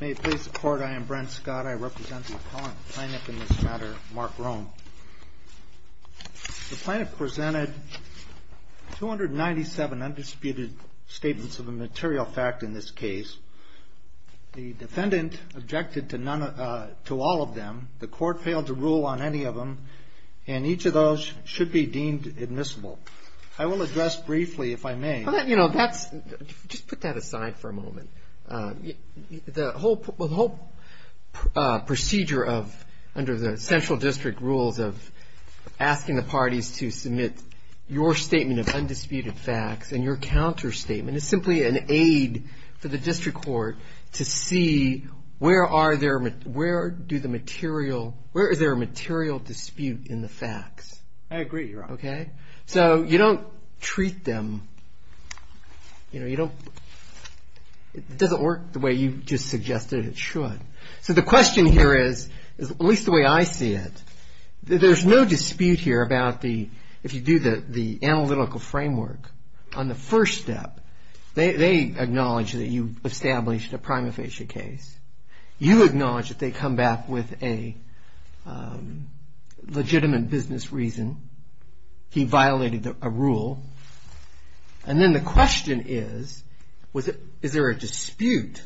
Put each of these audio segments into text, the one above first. May it please the Court, I am Brent Scott. I represent the Appellant Plaintiff in this matter, Mark Rome. The Plaintiff presented 297 undisputed statements of a material fact in this case. The Defendant objected to all of them. The Court failed to rule on any of them. And each of those should be deemed admissible. I will address briefly, if I may. Just put that aside for a moment. The whole procedure under the central district rules of asking the parties to submit your statement of undisputed facts and your counterstatement is simply an aid for the district court to see where is there a material dispute in the facts. I agree, Your Honor. Okay? So you don't treat them, you know, you don't, it doesn't work the way you just suggested it should. So the question here is, at least the way I see it, there's no dispute here about the, if you do the analytical framework on the first step, they acknowledge that you established a prima facie case. You acknowledge that they come back with a legitimate business reason. He violated a rule. And then the question is, is there a dispute,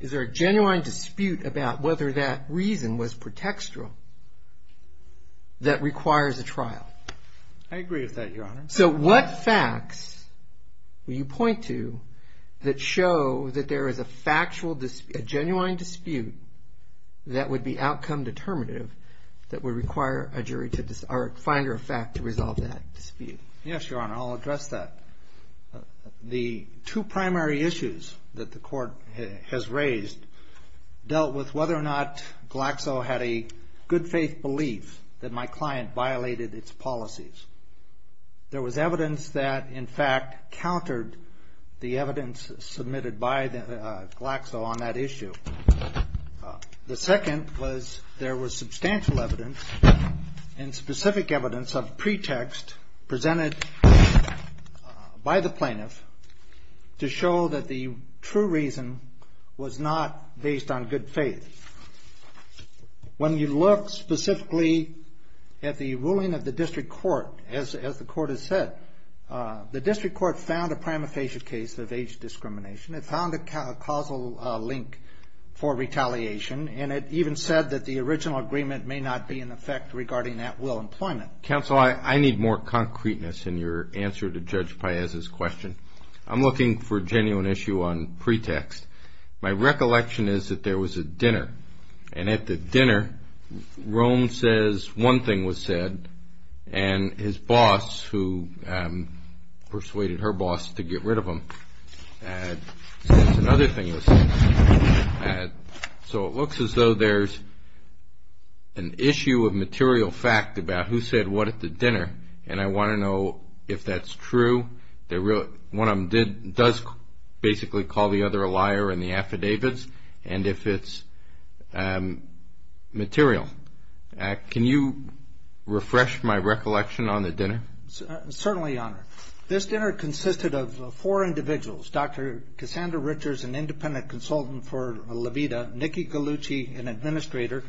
is there a genuine dispute about whether that reason was pretextual that requires a trial? I agree with that, Your Honor. So what facts will you point to that show that there is a factual, a genuine dispute that would be outcome determinative that would require a jury to, or a finder of fact to resolve that dispute? Yes, Your Honor, I'll address that. The two primary issues that the court has raised dealt with whether or not Glaxo had a good faith belief that my client violated its policies. There was evidence that, in fact, countered the evidence submitted by Glaxo on that issue. The second was there was substantial evidence and specific evidence of pretext presented by the plaintiff to show that the true reason was not based on good faith. When you look specifically at the ruling of the district court, as the court has said, the district court found a prima facie case of age discrimination. It found a causal link for retaliation. And it even said that the original agreement may not be in effect regarding at-will employment. Counsel, I need more concreteness in your answer to Judge Paez's question. I'm looking for a genuine issue on pretext. My recollection is that there was a dinner, and at the dinner, Rome says one thing was said, and his boss, who persuaded her boss to get rid of him, says another thing was said. So it looks as though there's an issue of material fact about who said what at the dinner, and I want to know if that's true. One of them does basically call the other a liar in the affidavits, and if it's material. Can you refresh my recollection on the dinner? Certainly, Your Honor. This dinner consisted of four individuals, Dr. Cassandra Richards, an independent consultant for Levita, Nikki Gallucci, an administrator,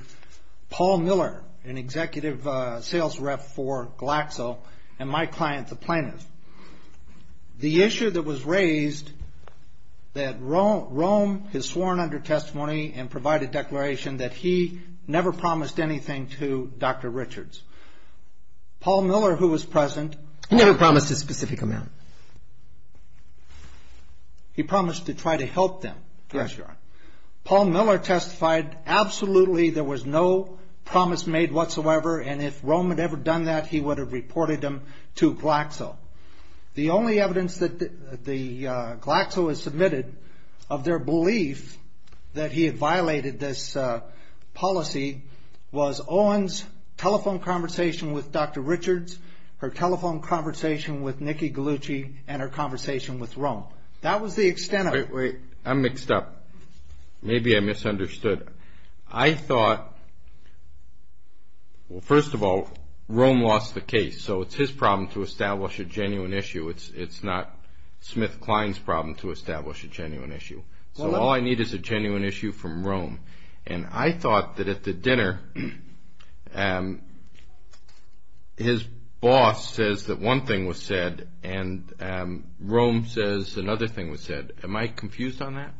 Paul Miller, an executive sales rep for Glaxo, and my client, the plaintiff. The issue that was raised that Rome has sworn under testimony and provided declaration that he never promised anything to Dr. Richards. Paul Miller, who was present. He never promised a specific amount. He promised to try to help them. Yes, Your Honor. Paul Miller testified absolutely there was no promise made whatsoever, and if Rome had ever done that, he would have reported them to Glaxo. The only evidence that Glaxo has submitted of their belief that he had violated this policy was Owen's telephone conversation with Dr. Richards, her telephone conversation with Nikki Gallucci, and her conversation with Rome. That was the extent of it. I'm mixed up. Maybe I misunderstood. I thought, well, first of all, Rome lost the case, so it's his problem to establish a genuine issue. It's not Smith-Klein's problem to establish a genuine issue. So all I need is a genuine issue from Rome, and I thought that at the dinner, his boss says that one thing was said, and Rome says another thing was said. Am I confused on that?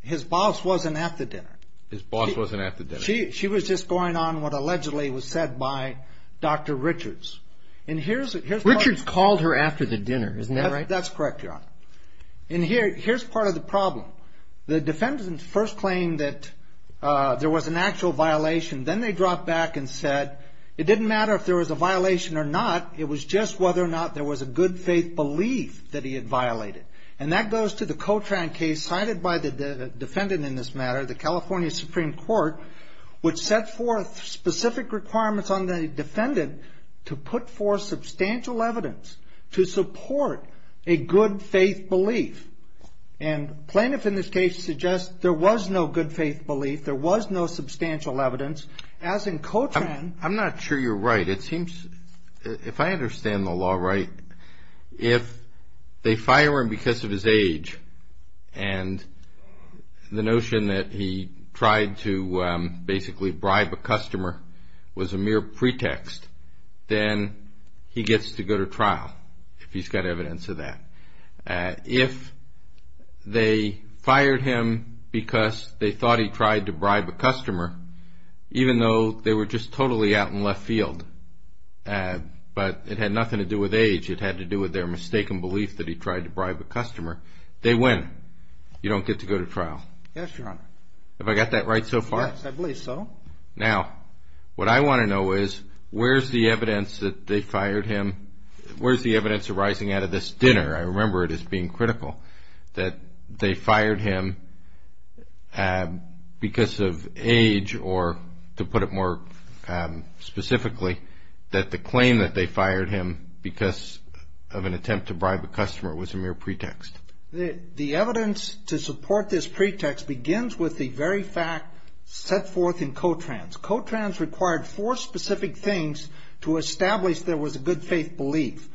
His boss wasn't at the dinner. His boss wasn't at the dinner. She was just going on what allegedly was said by Dr. Richards. Richards called her after the dinner. Isn't that right? That's correct, Your Honor. And here's part of the problem. The defendants first claimed that there was an actual violation. Then they dropped back and said it didn't matter if there was a violation or not. It was just whether or not there was a good faith belief that he had violated. And that goes to the Cotran case cited by the defendant in this matter, the California Supreme Court, which set forth specific requirements on the defendant to put forth substantial evidence to support a good faith belief. And plaintiff in this case suggests there was no good faith belief. There was no substantial evidence. As in Cotran. I'm not sure you're right. It seems, if I understand the law right, if they fire him because of his age and the notion that he tried to basically bribe a customer was a mere pretext, then he gets to go to trial if he's got evidence of that. If they fired him because they thought he tried to bribe a customer, even though they were just totally out in left field, but it had nothing to do with age. It had to do with their mistaken belief that he tried to bribe a customer. They win. You don't get to go to trial. Yes, Your Honor. Have I got that right so far? Yes, I believe so. Now, what I want to know is where's the evidence that they fired him? Where's the evidence arising out of this dinner? I remember it as being critical that they fired him because of age or to put it more specifically that the claim that they fired him because of an attempt to bribe a customer was a mere pretext. The evidence to support this pretext begins with the very fact set forth in Cotrans. Cotrans required four specific things to establish there was a good faith belief.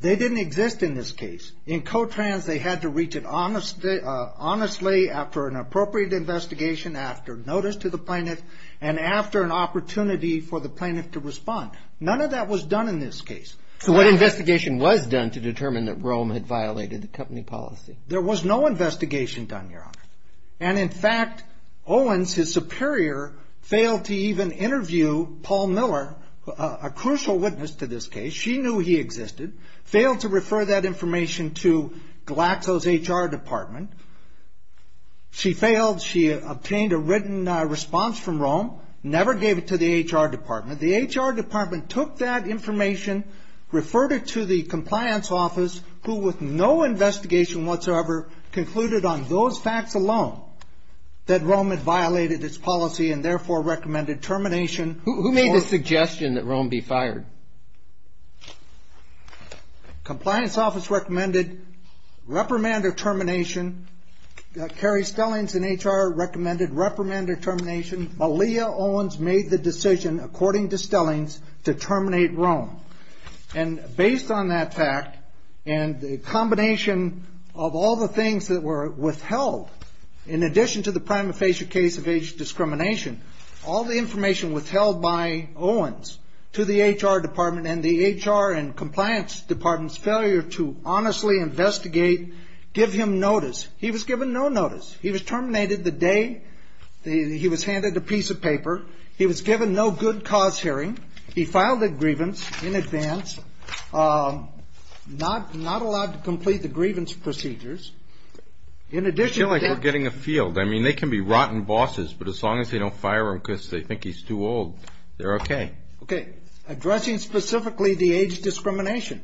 They didn't exist in this case. In Cotrans, they had to reach it honestly after an appropriate investigation, after notice to the plaintiff, and after an opportunity for the plaintiff to respond. None of that was done in this case. So what investigation was done to determine that Rome had violated the company policy? There was no investigation done, Your Honor. And in fact, Owens, his superior, failed to even interview Paul Miller, a crucial witness to this case. She knew he existed, failed to refer that information to Glaxo's HR department. She failed. She obtained a written response from Rome, never gave it to the HR department. The HR department took that information, referred it to the compliance office, who with no investigation whatsoever concluded on those facts alone that Rome had violated its policy and therefore recommended termination. Who made the suggestion that Rome be fired? Compliance office recommended reprimand or termination. Carrie Stellings in HR recommended reprimand or termination. Malia Owens made the decision, according to Stellings, to terminate Rome. And based on that fact and the combination of all the things that were withheld, in addition to the prima facie case of age discrimination, all the information withheld by Owens to the HR department and the HR and compliance department's failure to honestly investigate, give him notice. He was given no notice. He was terminated the day he was handed a piece of paper. He was given no good cause hearing. He filed a grievance in advance, not allowed to complete the grievance procedures. I feel like we're getting a field. I mean, they can be rotten bosses, but as long as they don't fire him because they think he's too old, they're okay. Okay. Addressing specifically the age discrimination,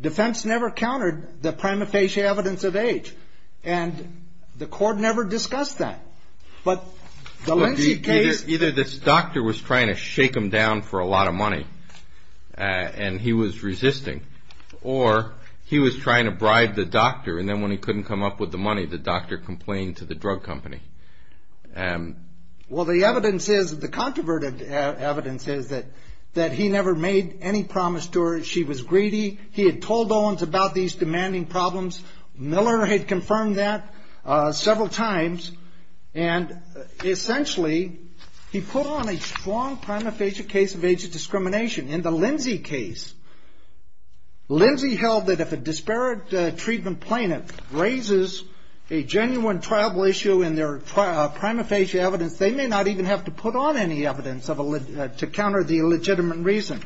defense never countered the prima facie evidence of age, and the court never discussed that. But the Lindsey case. Either this doctor was trying to shake him down for a lot of money, and he was resisting, or he was trying to bribe the doctor, and then when he couldn't come up with the money, the doctor complained to the drug company. Well, the evidence is, the controverted evidence is that he never made any promise to her. She was greedy. He had told Owens about these demanding problems. Miller had confirmed that several times, and essentially he put on a strong prima facie case of age discrimination. In the Lindsey case, Lindsey held that if a disparate treatment plaintiff raises a genuine tribal issue in their prima facie evidence, they may not even have to put on any evidence to counter the legitimate reason.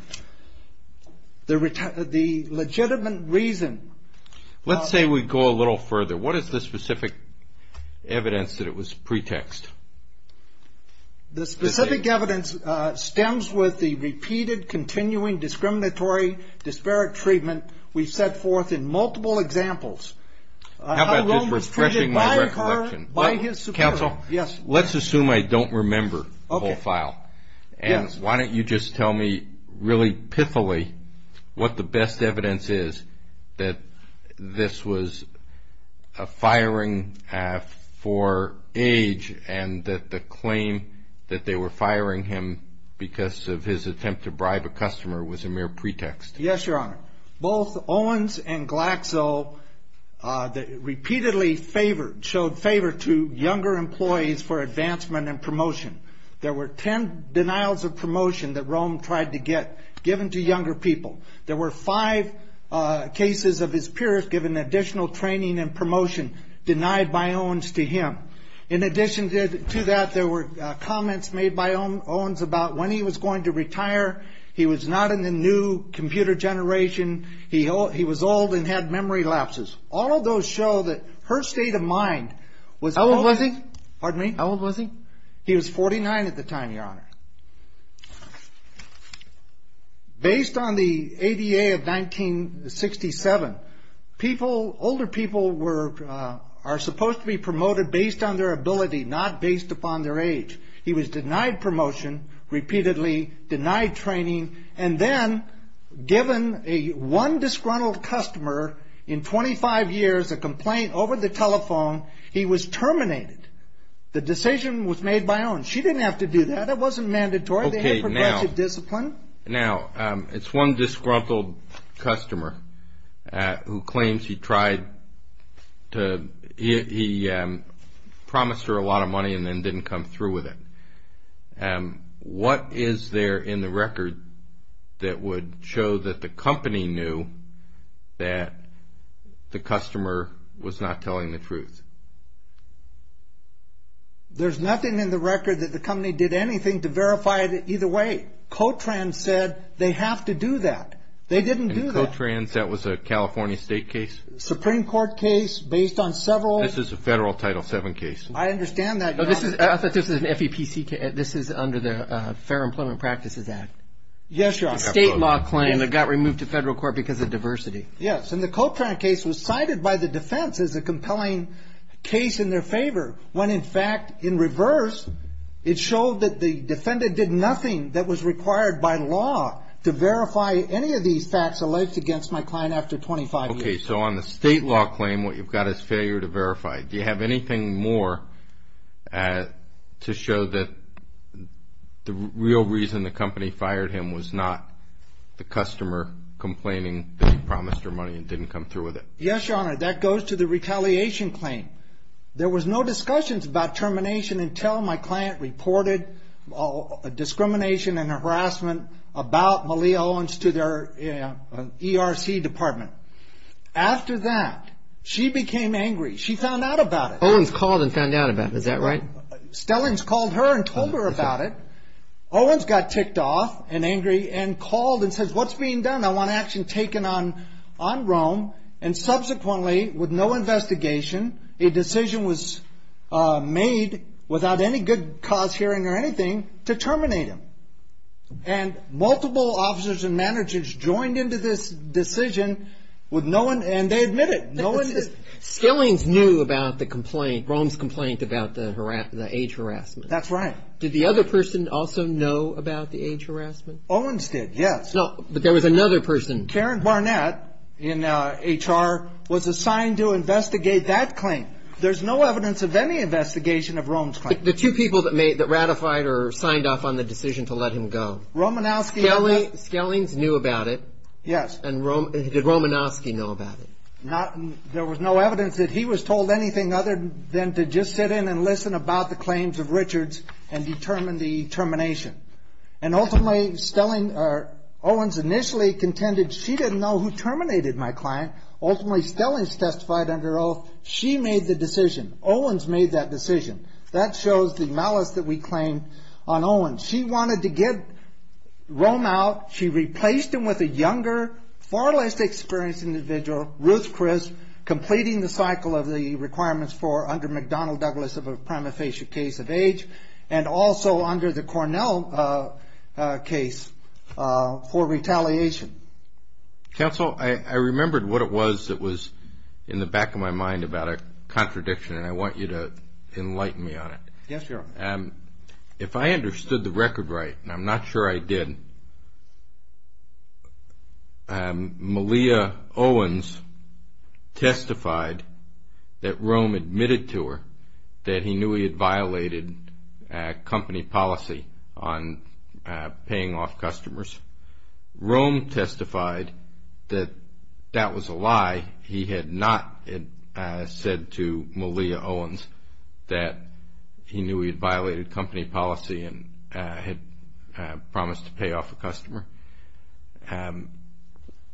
The legitimate reason. Let's say we go a little further. What is the specific evidence that it was pretext? The specific evidence stems with the repeated, continuing, discriminatory, disparate treatment we've set forth in multiple examples. How about just refreshing my recollection? By his superior. Counsel? Yes. Let's assume I don't remember the whole file, and why don't you just tell me really pitifully what the best evidence is that this was a firing for age, and that the claim that they were firing him because of his attempt to bribe a customer was a mere pretext. Yes, Your Honor. Both Owens and Glaxo repeatedly favored, showed favor to younger employees for advancement and promotion. There were 10 denials of promotion that Rome tried to get given to younger people. There were five cases of his peers given additional training and promotion denied by Owens to him. In addition to that, there were comments made by Owens about when he was going to retire. He was not in the new computer generation. He was old and had memory lapses. All of those show that her state of mind was... How old was he? Pardon me? How old was he? He was 49 at the time, Your Honor. Based on the ADA of 1967, older people are supposed to be promoted based on their ability, not based upon their age. He was denied promotion repeatedly, denied training, and then given one disgruntled customer in 25 years a complaint over the telephone. He was terminated. The decision was made by Owens. She didn't have to do that. That wasn't mandatory. They had progressive discipline. Now, it's one disgruntled customer who claims he tried to... He promised her a lot of money and then didn't come through with it. What is there in the record that would show that the company knew that the customer was not telling the truth? There's nothing in the record that the company did anything to verify it either way. Cotrans said they have to do that. They didn't do that. In Cotrans, that was a California state case? Supreme Court case based on several... This is a federal Title VII case. I understand that, Your Honor. I thought this was an FEPC case. This is under the Fair Employment Practices Act. Yes, Your Honor. A state law claim that got removed to federal court because of diversity. Yes, and the Cotrans case was cited by the defense as a compelling case in their favor when, in fact, in reverse, it showed that the defendant did nothing that was required by law to verify any of these facts alleged against my client after 25 years. Okay, so on the state law claim, what you've got is failure to verify. Do you have anything more to show that the real reason the company fired him was not the customer complaining that he promised her money and didn't come through with it? Yes, Your Honor. That goes to the retaliation claim. There was no discussions about termination until my client reported discrimination and harassment about Malia Owens to their ERC department. After that, she became angry. She found out about it. Owens called and found out about it. Is that right? Stellings called her and told her about it. Owens got ticked off and angry and called and said, what's being done? I want action taken on Rome, and subsequently, with no investigation, a decision was made without any good cause hearing or anything to terminate him. And multiple officers and managers joined into this decision with no one, and they admitted. Stellings knew about the complaint, Rome's complaint about the age harassment. That's right. Did the other person also know about the age harassment? Owens did, yes. No, but there was another person. Karen Barnett in HR was assigned to investigate that claim. There's no evidence of any investigation of Rome's claim. The two people that ratified or signed off on the decision to let him go. Romanowski knew about it. Stellings knew about it. Yes. And did Romanowski know about it? There was no evidence that he was told anything other than to just sit in and listen about the claims of Richards and determine the termination. And ultimately, Owens initially contended she didn't know who terminated my client. Ultimately, Stellings testified under oath. She made the decision. Owens made that decision. That shows the malice that we claim on Owens. She wanted to get Rome out. She replaced him with a younger, far less experienced individual, Ruth Chris, completing the cycle of the requirements for under McDonnell Douglas of a prima facie case of age and also under the Cornell case for retaliation. Counsel, I remembered what it was that was in the back of my mind about a contradiction, and I want you to enlighten me on it. Yes, Your Honor. If I understood the record right, and I'm not sure I did, Malia Owens testified that Rome admitted to her that he knew he had violated company policy on paying off customers. Rome testified that that was a lie. He had not said to Malia Owens that he knew he had violated company policy and had promised to pay off a customer.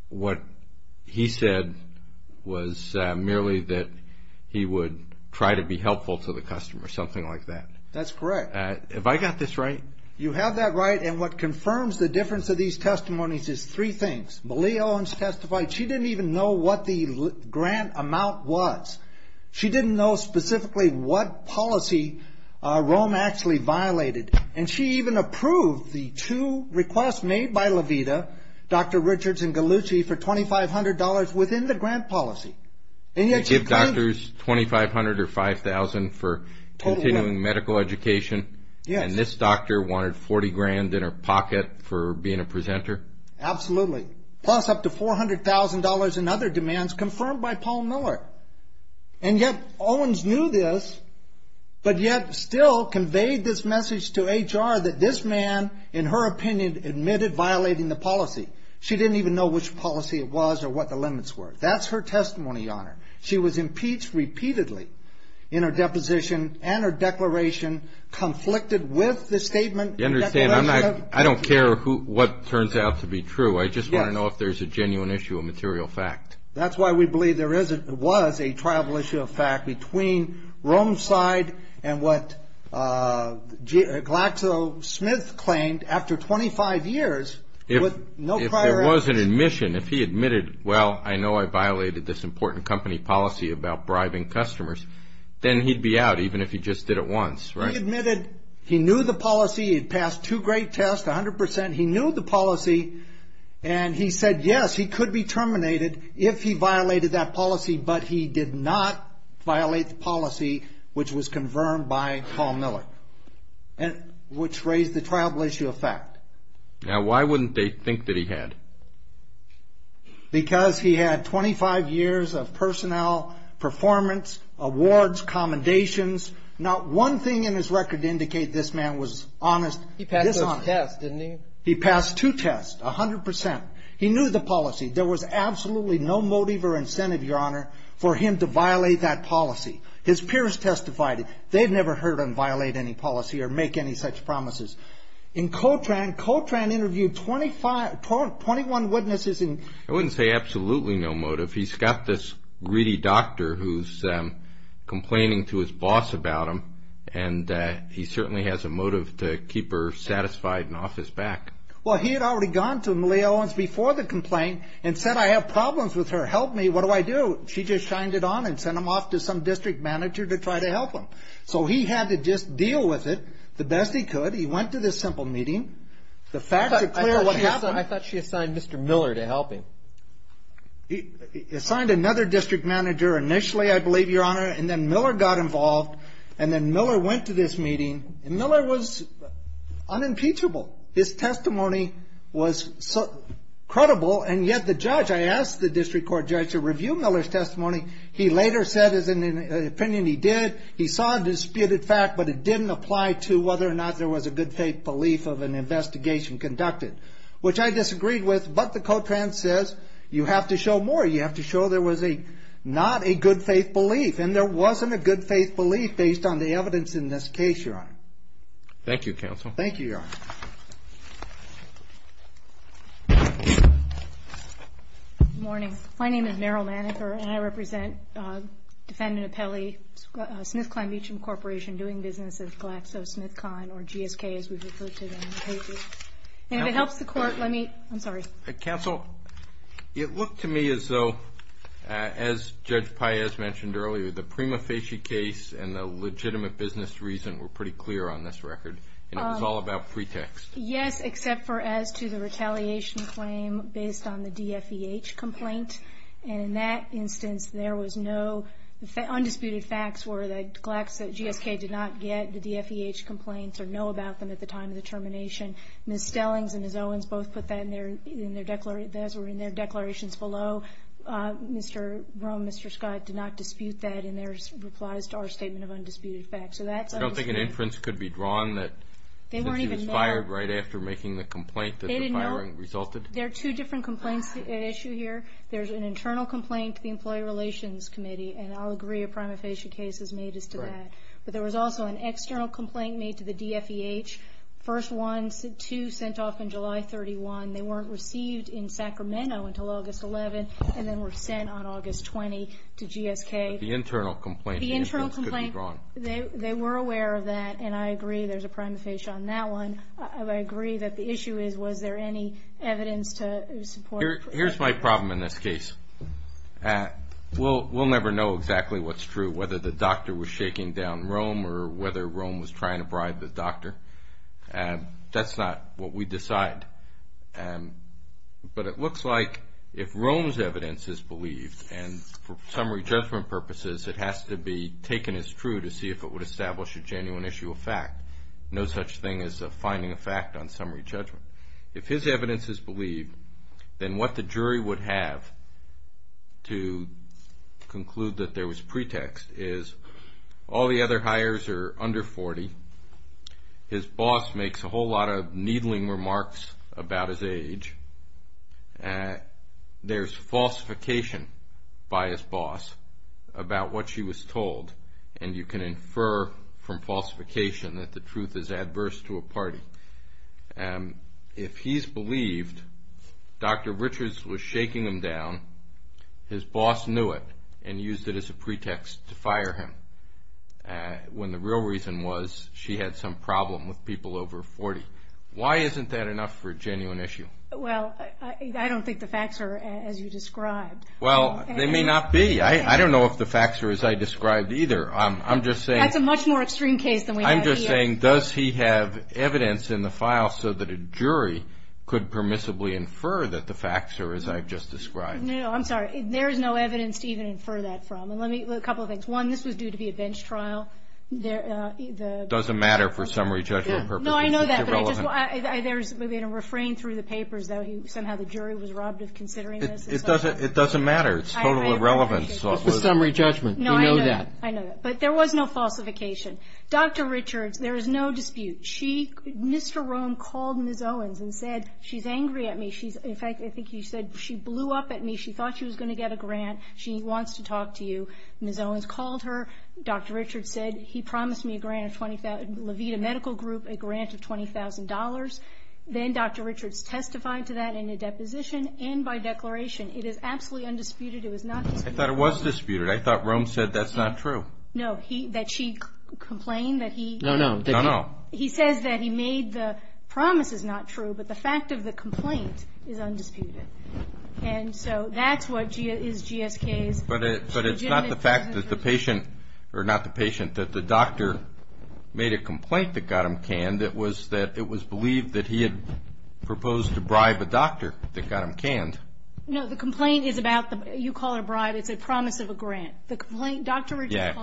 What he said was merely that he would try to be helpful to the customer, something like that. That's correct. Have I got this right? You have that right, and what confirms the difference of these testimonies is three things. Malia Owens testified she didn't even know what the grant amount was. She didn't know specifically what policy Rome actually violated, and she even approved the two requests made by Levita, Dr. Richards and Gallucci, for $2,500 within the grant policy. They give doctors $2,500 or $5,000 for continuing medical education? Yes. And this doctor wanted $40,000 in her pocket for being a presenter? Absolutely, plus up to $400,000 in other demands confirmed by Paul Miller. And yet Owens knew this, but yet still conveyed this message to HR that this man, in her opinion, admitted violating the policy. She didn't even know which policy it was or what the limits were. That's her testimony, Your Honor. She was impeached repeatedly in her deposition and her declaration, conflicted with the statement. I don't care what turns out to be true. I just want to know if there's a genuine issue, a material fact. That's why we believe there was a travel issue of fact between Rome's side and what GlaxoSmith claimed after 25 years. If there was an admission, if he admitted, well, I know I violated this important company policy about bribing customers, then he'd be out even if he just did it once, right? He admitted he knew the policy. He'd passed two great tests, 100%. He knew the policy, and he said, yes, he could be terminated if he violated that policy, but he did not violate the policy which was confirmed by Paul Miller, which raised the travel issue of fact. Now, why wouldn't they think that he had? Because he had 25 years of personnel, performance, awards, commendations. Not one thing in his record to indicate this man was honest. He passed those tests, didn't he? He passed two tests, 100%. He knew the policy. There was absolutely no motive or incentive, Your Honor, for him to violate that policy. His peers testified. They've never heard him violate any policy or make any such promises. In Coltrane, Coltrane interviewed 21 witnesses. I wouldn't say absolutely no motive. He's got this greedy doctor who's complaining to his boss about him, and he certainly has a motive to keep her satisfied and off his back. Well, he had already gone to Malia Owens before the complaint and said, I have problems with her. Help me. What do I do? She just shined it on and sent him off to some district manager to try to help him. So he had to just deal with it the best he could. He went to this simple meeting. The facts are clear of what happened. I thought she assigned Mr. Miller to help him. She assigned another district manager initially, I believe, Your Honor, and then Miller got involved, and then Miller went to this meeting, and Miller was unimpeachable. His testimony was credible, and yet the judge, I asked the district court judge to review Miller's testimony. He later said it was an opinion he did. He saw a disputed fact, but it didn't apply to whether or not there was a good faith belief of an investigation conducted, which I disagreed with, but the Cotrans says you have to show more. You have to show there was not a good faith belief, and there wasn't a good faith belief based on the evidence in this case, Your Honor. Thank you, Your Honor. Good morning. My name is Meryl Manninger, and I represent Defendant Apelli, SmithKline Beachham Corporation, doing business with GlaxoSmithKline, or GSK as we refer to them. And if it helps the court, let me, I'm sorry. Counsel, it looked to me as though, as Judge Paez mentioned earlier, the Prima Facie case and the legitimate business reason were pretty clear on this record, and it was all about pretext. Yes, except for as to the retaliation claim based on the DFEH complaint. And in that instance, there was no, undisputed facts were that Glaxo, GSK did not get the DFEH complaints or know about them at the time of the termination. Ms. Stellings and Ms. Owens both put that in their declarations below. Mr. Rome, Mr. Scott did not dispute that in their replies to our statement of undisputed facts. So that's undisputed. Do you think an inference could be drawn that she was fired right after making the complaint that the firing resulted? There are two different complaints at issue here. There's an internal complaint to the Employee Relations Committee, and I'll agree a Prima Facie case is made as to that. But there was also an external complaint made to the DFEH. First one, two sent off in July 31. They weren't received in Sacramento until August 11, and then were sent on August 20 to GSK. The internal complaint could be drawn. They were aware of that, and I agree there's a Prima Facie on that one. I agree that the issue is, was there any evidence to support? Here's my problem in this case. We'll never know exactly what's true, whether the doctor was shaking down Rome or whether Rome was trying to bribe the doctor. That's not what we decide. But it looks like if Rome's evidence is believed, and for summary judgment purposes, it has to be taken as true to see if it would establish a genuine issue of fact. No such thing as finding a fact on summary judgment. If his evidence is believed, then what the jury would have to conclude that there was pretext is all the other hires are under 40. His boss makes a whole lot of needling remarks about his age. There's falsification by his boss about what she was told, and you can infer from falsification that the truth is adverse to a party. If he's believed Dr. Richards was shaking him down, his boss knew it and used it as a pretext to fire him, when the real reason was she had some problem with people over 40. Why isn't that enough for a genuine issue? Well, I don't think the facts are as you described. Well, they may not be. I don't know if the facts are as I described either. That's a much more extreme case than we have here. I'm just saying, does he have evidence in the file so that a jury could permissibly infer that the facts are as I've just described? No, I'm sorry. There is no evidence to even infer that from. A couple of things. One, this was due to be a bench trial. It doesn't matter for summary judgment purposes. No, I know that, but there's been a refrain through the papers that somehow the jury was robbed of considering this. It doesn't matter. It's totally irrelevant. It's a summary judgment. We know that. I know that. But there was no falsification. Dr. Richards, there is no dispute. Mr. Rome called Ms. Owens and said, she's angry at me. In fact, I think you said, she blew up at me. She thought she was going to get a grant. She wants to talk to you. Ms. Owens called her. Dr. Richards said, he promised me a grant of $20,000, Levita Medical Group, a grant of $20,000. Then Dr. Richards testified to that in a deposition and by declaration. It is absolutely undisputed. It was not disputed. I thought it was disputed. I thought Rome said that's not true. No, that she complained that he. No, no. No, no. He says that he made the promises not true, but the fact of the complaint is undisputed. And so that's what is GSK's. But it's not the fact that the patient, or not the patient, that the doctor made a complaint that got him canned. It was that it was believed that he had proposed to bribe a doctor that got him canned. No, the complaint is about, you call it a bribe. It's a promise of a grant. The complaint, Dr. Richards,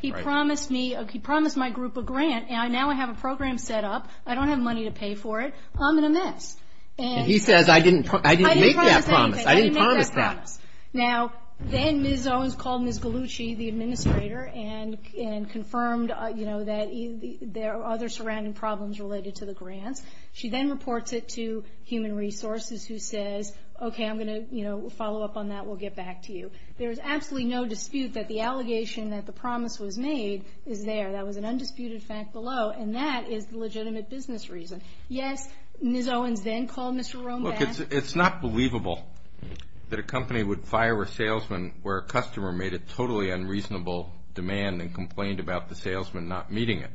he promised me, he promised my group a grant, and now I have a program set up. I don't have money to pay for it. I'm in a mess. And he says, I didn't make that promise. I didn't promise anything. I didn't make that promise. Now, then Ms. Owens called Ms. Gallucci, the administrator, and confirmed that there are other surrounding problems related to the grants. She then reports it to Human Resources, who says, okay, I'm going to follow up on that. We'll get back to you. There is absolutely no dispute that the allegation that the promise was made is there. That was an undisputed fact below, and that is the legitimate business reason. Yes, Ms. Owens then called Mr. Rome back. Look, it's not believable that a company would fire a salesman where a customer made a totally unreasonable demand and complained about the salesman not meeting it.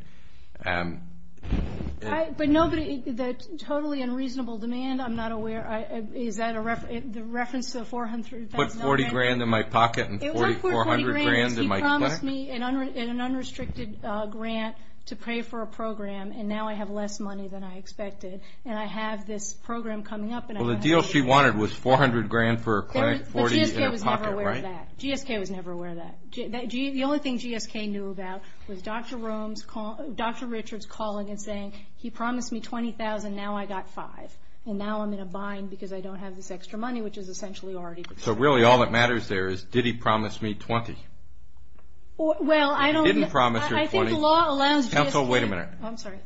But nobody, the totally unreasonable demand, I'm not aware, is that a reference to the $400,000 grant? He put $40,000 in my pocket and $4,400,000 in my pocket. It wasn't $40,000. He promised me an unrestricted grant to pay for a program, and now I have less money than I expected. And I have this program coming up. Well, the deal she wanted was $400,000 for a clinic, $40,000 in her pocket, right? But GSK was never aware of that. GSK was never aware of that. The only thing GSK knew about was Dr. Richard's calling and saying, he promised me $20,000, now I got $5,000. And now I'm in a bind because I don't have this extra money, which is essentially already. So really all that matters there is, did he promise me $20,000? Well, I don't think. He didn't promise her $20,000. I think the law allows GSK. Counsel, wait a minute. I'm sorry.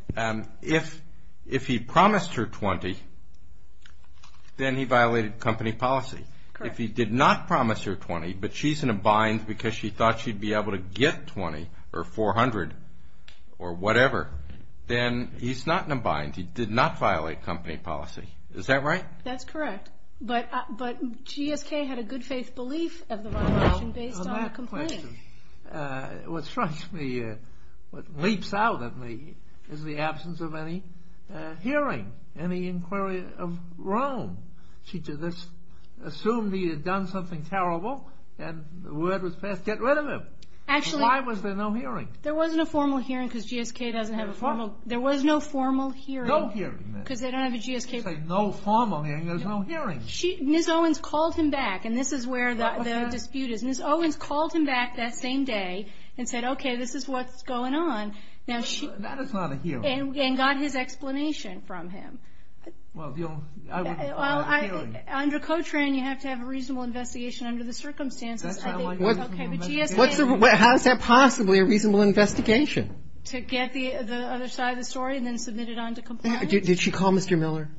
If he promised her $20,000, then he violated company policy. Correct. If he did not promise her $20,000, but she's in a bind because she thought she'd be able to get $20,000 or $400,000 or whatever, then he's not in a bind. He did not violate company policy. Is that right? That's correct. But GSK had a good faith belief of the violation based on the complaint. What strikes me, what leaps out at me is the absence of any hearing, any inquiry of Rome. She just assumed he had done something terrible and the word was passed, get rid of him. Actually. Why was there no hearing? There wasn't a formal hearing because GSK doesn't have a formal. There was no formal hearing. No hearing. Because they don't have a GSK. No formal hearing, there's no hearing. Ms. Owens called him back, and this is where the dispute is. Ms. Owens called him back that same day and said, okay, this is what's going on. That is not a hearing. And got his explanation from him. Well, I wouldn't call it a hearing. Under COTRAN, you have to have a reasonable investigation under the circumstances. That's not a reasonable investigation. How is that possibly a reasonable investigation? To get the other side of the story and then submit it on to compliance? Did she call Mr. Miller?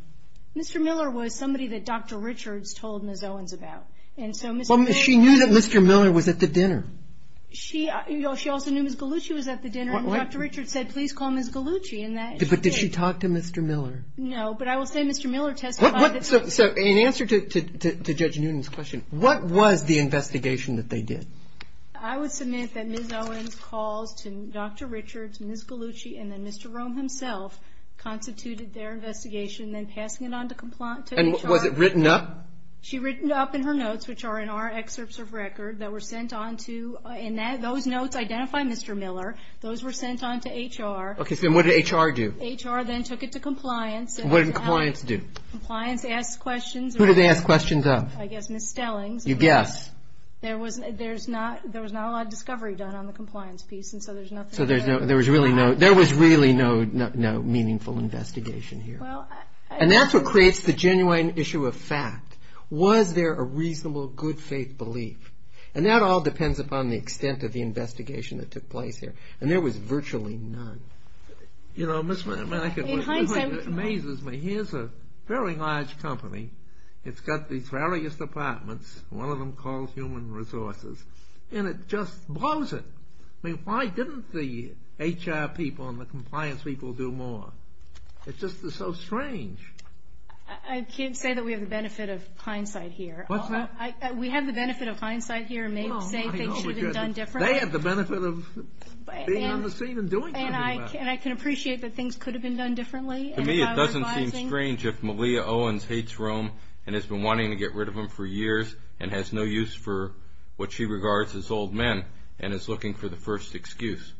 Mr. Miller was somebody that Dr. Richards told Ms. Owens about. Well, she knew that Mr. Miller was at the dinner. She also knew Ms. Gallucci was at the dinner, and Dr. Richards said, please call Ms. Gallucci. But did she talk to Mr. Miller? No, but I will say Mr. Miller testified. So in answer to Judge Newton's question, what was the investigation that they did? I would submit that Ms. Owens calls to Dr. Richards, Ms. Gallucci, and then Mr. Rome himself constituted their investigation, then passing it on to HR. And was it written up? She written up in her notes, which are in our excerpts of record that were sent on to and those notes identify Mr. Miller. Those were sent on to HR. Okay, so what did HR do? HR then took it to compliance. What did compliance do? Compliance asked questions. Who did they ask questions of? I guess Ms. Stellings. You guess. There was not a lot of discovery done on the compliance piece, and so there's nothing there. So there was really no meaningful investigation here. And that's what creates the genuine issue of fact. Was there a reasonable, good-faith belief? And that all depends upon the extent of the investigation that took place here. And there was virtually none. You know, it amazes me. Here's a very large company. It's got these various departments. One of them calls Human Resources. And it just blows it. I mean, why didn't the HR people and the compliance people do more? It's just so strange. I can't say that we have the benefit of hindsight here. What's that? We have the benefit of hindsight here and may say things should have been done differently. They have the benefit of being on the scene and doing something about it. And I can appreciate that things could have been done differently. To me, it doesn't seem strange if Malia Owens hates Rome and has been wanting to get rid of him for years and has no use for what she regards as old men and is looking for the first excuse.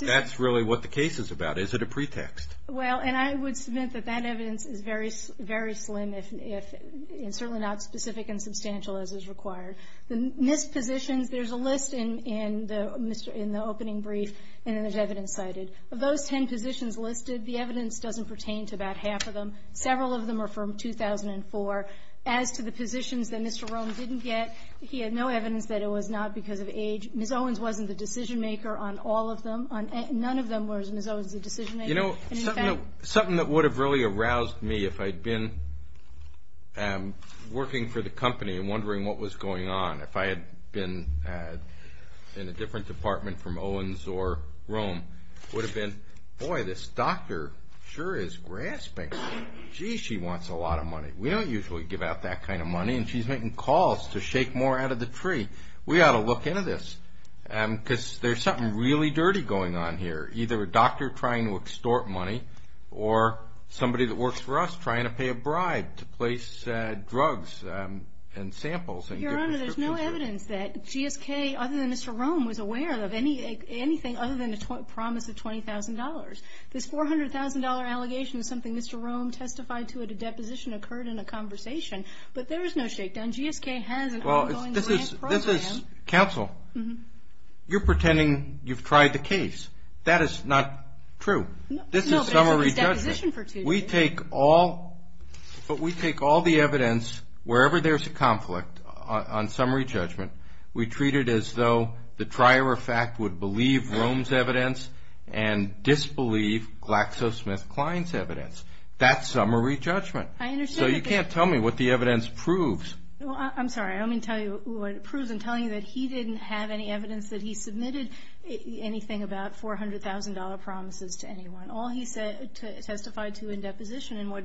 That's really what the case is about. Is it a pretext? Well, and I would submit that that evidence is very slim, and certainly not specific and substantial as is required. The missed positions, there's a list in the opening brief, and then there's evidence cited. Of those ten positions listed, the evidence doesn't pertain to about half of them. Several of them are from 2004. As to the positions that Mr. Rome didn't get, he had no evidence that it was not because of age. Ms. Owens wasn't the decision-maker on all of them. None of them was Ms. Owens the decision-maker. You know, something that would have really aroused me if I'd been working for the company and wondering what was going on, if I had been in a different department from Owens or Rome, would have been, boy, this doctor sure is grasping. Gee, she wants a lot of money. We don't usually give out that kind of money, and she's making calls to shake more out of the tree. We ought to look into this because there's something really dirty going on here, either a doctor trying to extort money or somebody that works for us trying to pay a bribe to place drugs and samples. Your Honor, there's no evidence that GSK, other than Mr. Rome, was aware of anything other than the promise of $20,000. This $400,000 allegation is something Mr. Rome testified to at a deposition, occurred in a conversation, but there is no shakedown. And GSK has an ongoing grant program. Counsel, you're pretending you've tried the case. That is not true. This is summary judgment. We take all the evidence wherever there's a conflict on summary judgment. We treat it as though the trier of fact would believe Rome's evidence and disbelieve GlaxoSmithKline's evidence. That's summary judgment. So you can't tell me what the evidence proves. I'm sorry. I mean to tell you what it proves in telling you that he didn't have any evidence that he submitted anything about $400,000 promises to anyone. All he testified to in deposition and what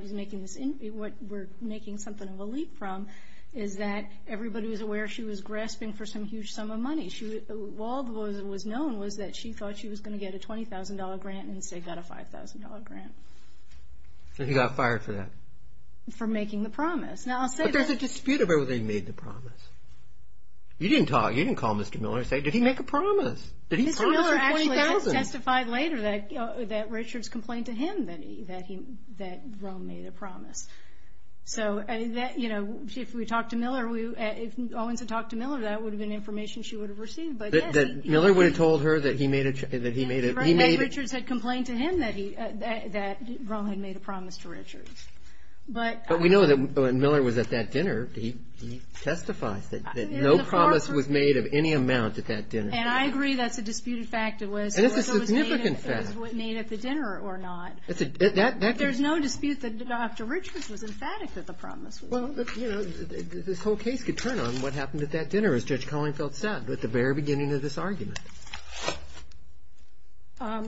we're making something of a leap from is that everybody was aware she was grasping for some huge sum of money. All that was known was that she thought she was going to get a $20,000 grant and instead got a $5,000 grant. And he got fired for that? For making the promise. But there's a dispute about whether he made the promise. You didn't call Mr. Miller and say, Did he make a promise? Mr. Miller actually testified later that Richards complained to him that Rome made a promise. So if we talked to Miller, if Owens had talked to Miller, that would have been information she would have received. Miller would have told her that he made a promise? That Rome had made a promise to Richards. But we know that when Miller was at that dinner, he testifies that no promise was made of any amount at that dinner. And I agree that's a disputed fact. And it's a significant fact. It was made at the dinner or not. There's no dispute that Dr. Richards was emphatic that the promise was made. This whole case could turn on what happened at that dinner, as Judge Kohlingfeld said, at the very beginning of this argument. I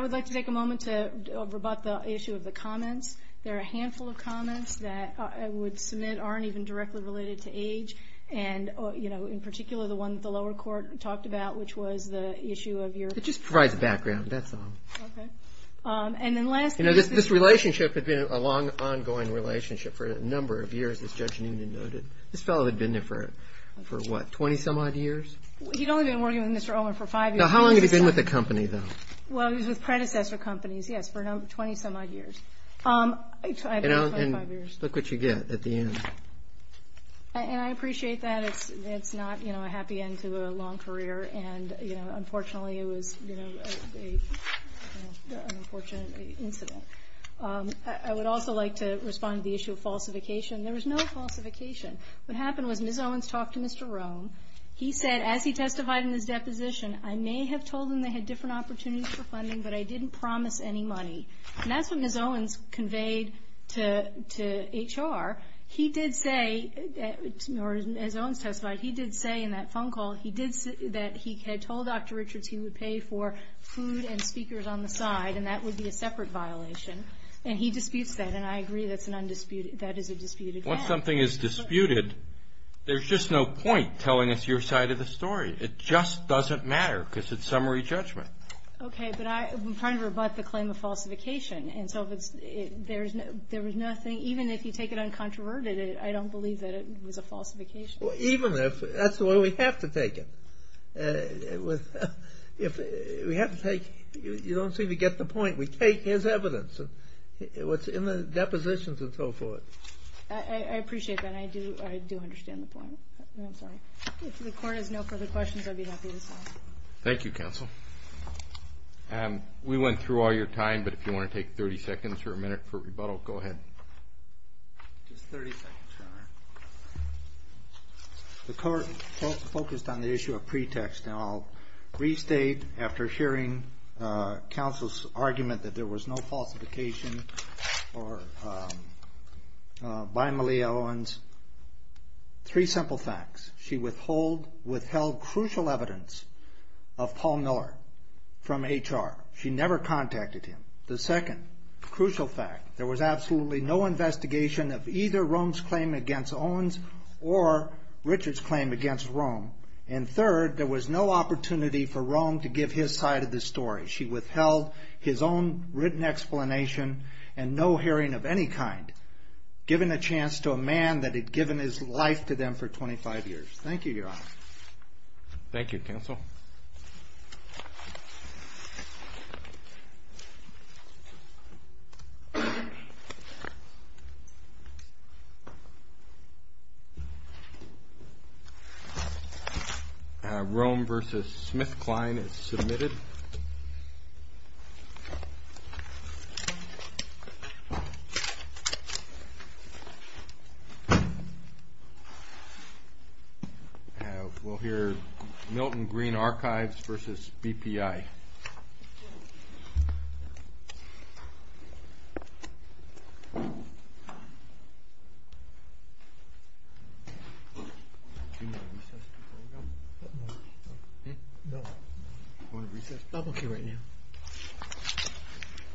would like to take a moment to rebut the issue of the comments. There are a handful of comments that I would submit aren't even directly related to age. And, you know, in particular, the one that the lower court talked about, which was the issue of your ---- It just provides a background. That's all. Okay. And then last ---- You know, this relationship has been a long, ongoing relationship for a number of years, as Judge Newman noted. This fellow had been there for, what, 20-some odd years? He'd only been working with Mr. Owen for five years. Now, how long had he been with the company, though? Well, he was with predecessor companies, yes, for 20-some odd years. I don't know, 25 years. And look what you get at the end. And I appreciate that. It's not, you know, a happy end to a long career. And, you know, unfortunately, it was, you know, an unfortunate incident. I would also like to respond to the issue of falsification. There was no falsification. What happened was Ms. Owens talked to Mr. Rome. He said, as he testified in his deposition, I may have told him they had different opportunities for funding, but I didn't promise any money. And that's what Ms. Owens conveyed to HR. He did say, or as Owens testified, he did say in that phone call, he did say that he had told Dr. Richards he would pay for food and speakers on the side, and that would be a separate violation. And he disputes that, and I agree that's an undisputed ---- that is a disputed fact. Once something is disputed, there's just no point telling us your side of the story. It just doesn't matter because it's summary judgment. Okay, but I'm trying to rebut the claim of falsification. And so there was nothing ---- even if you take it uncontroverted, I don't believe that it was a falsification. Even if ---- that's the way we have to take it. We have to take ---- you don't seem to get the point. We take his evidence, what's in the depositions and so forth. I appreciate that. I do understand the point. I'm sorry. If the Court has no further questions, I'd be happy to sign. Thank you, Counsel. We went through all your time, but if you want to take 30 seconds or a minute for rebuttal, go ahead. Just 30 seconds, Your Honor. The Court focused on the issue of pretext. And I'll restate, after hearing Counsel's argument that there was no falsification by Malia Owens, three simple facts. She withheld crucial evidence of Paul Miller from HR. She never contacted him. The second crucial fact, there was absolutely no investigation of either Rome's claim against Owens or Richard's claim against Rome. And third, there was no opportunity for Rome to give his side of the story. She withheld his own written explanation and no hearing of any kind, given a chance to a man that had given his life to them for 25 years. Thank you, Your Honor. Thank you, Counsel. Rome v. Smith-Klein is submitted. We'll hear Milton Green Archives v. BPI. Thank you, Your Honor.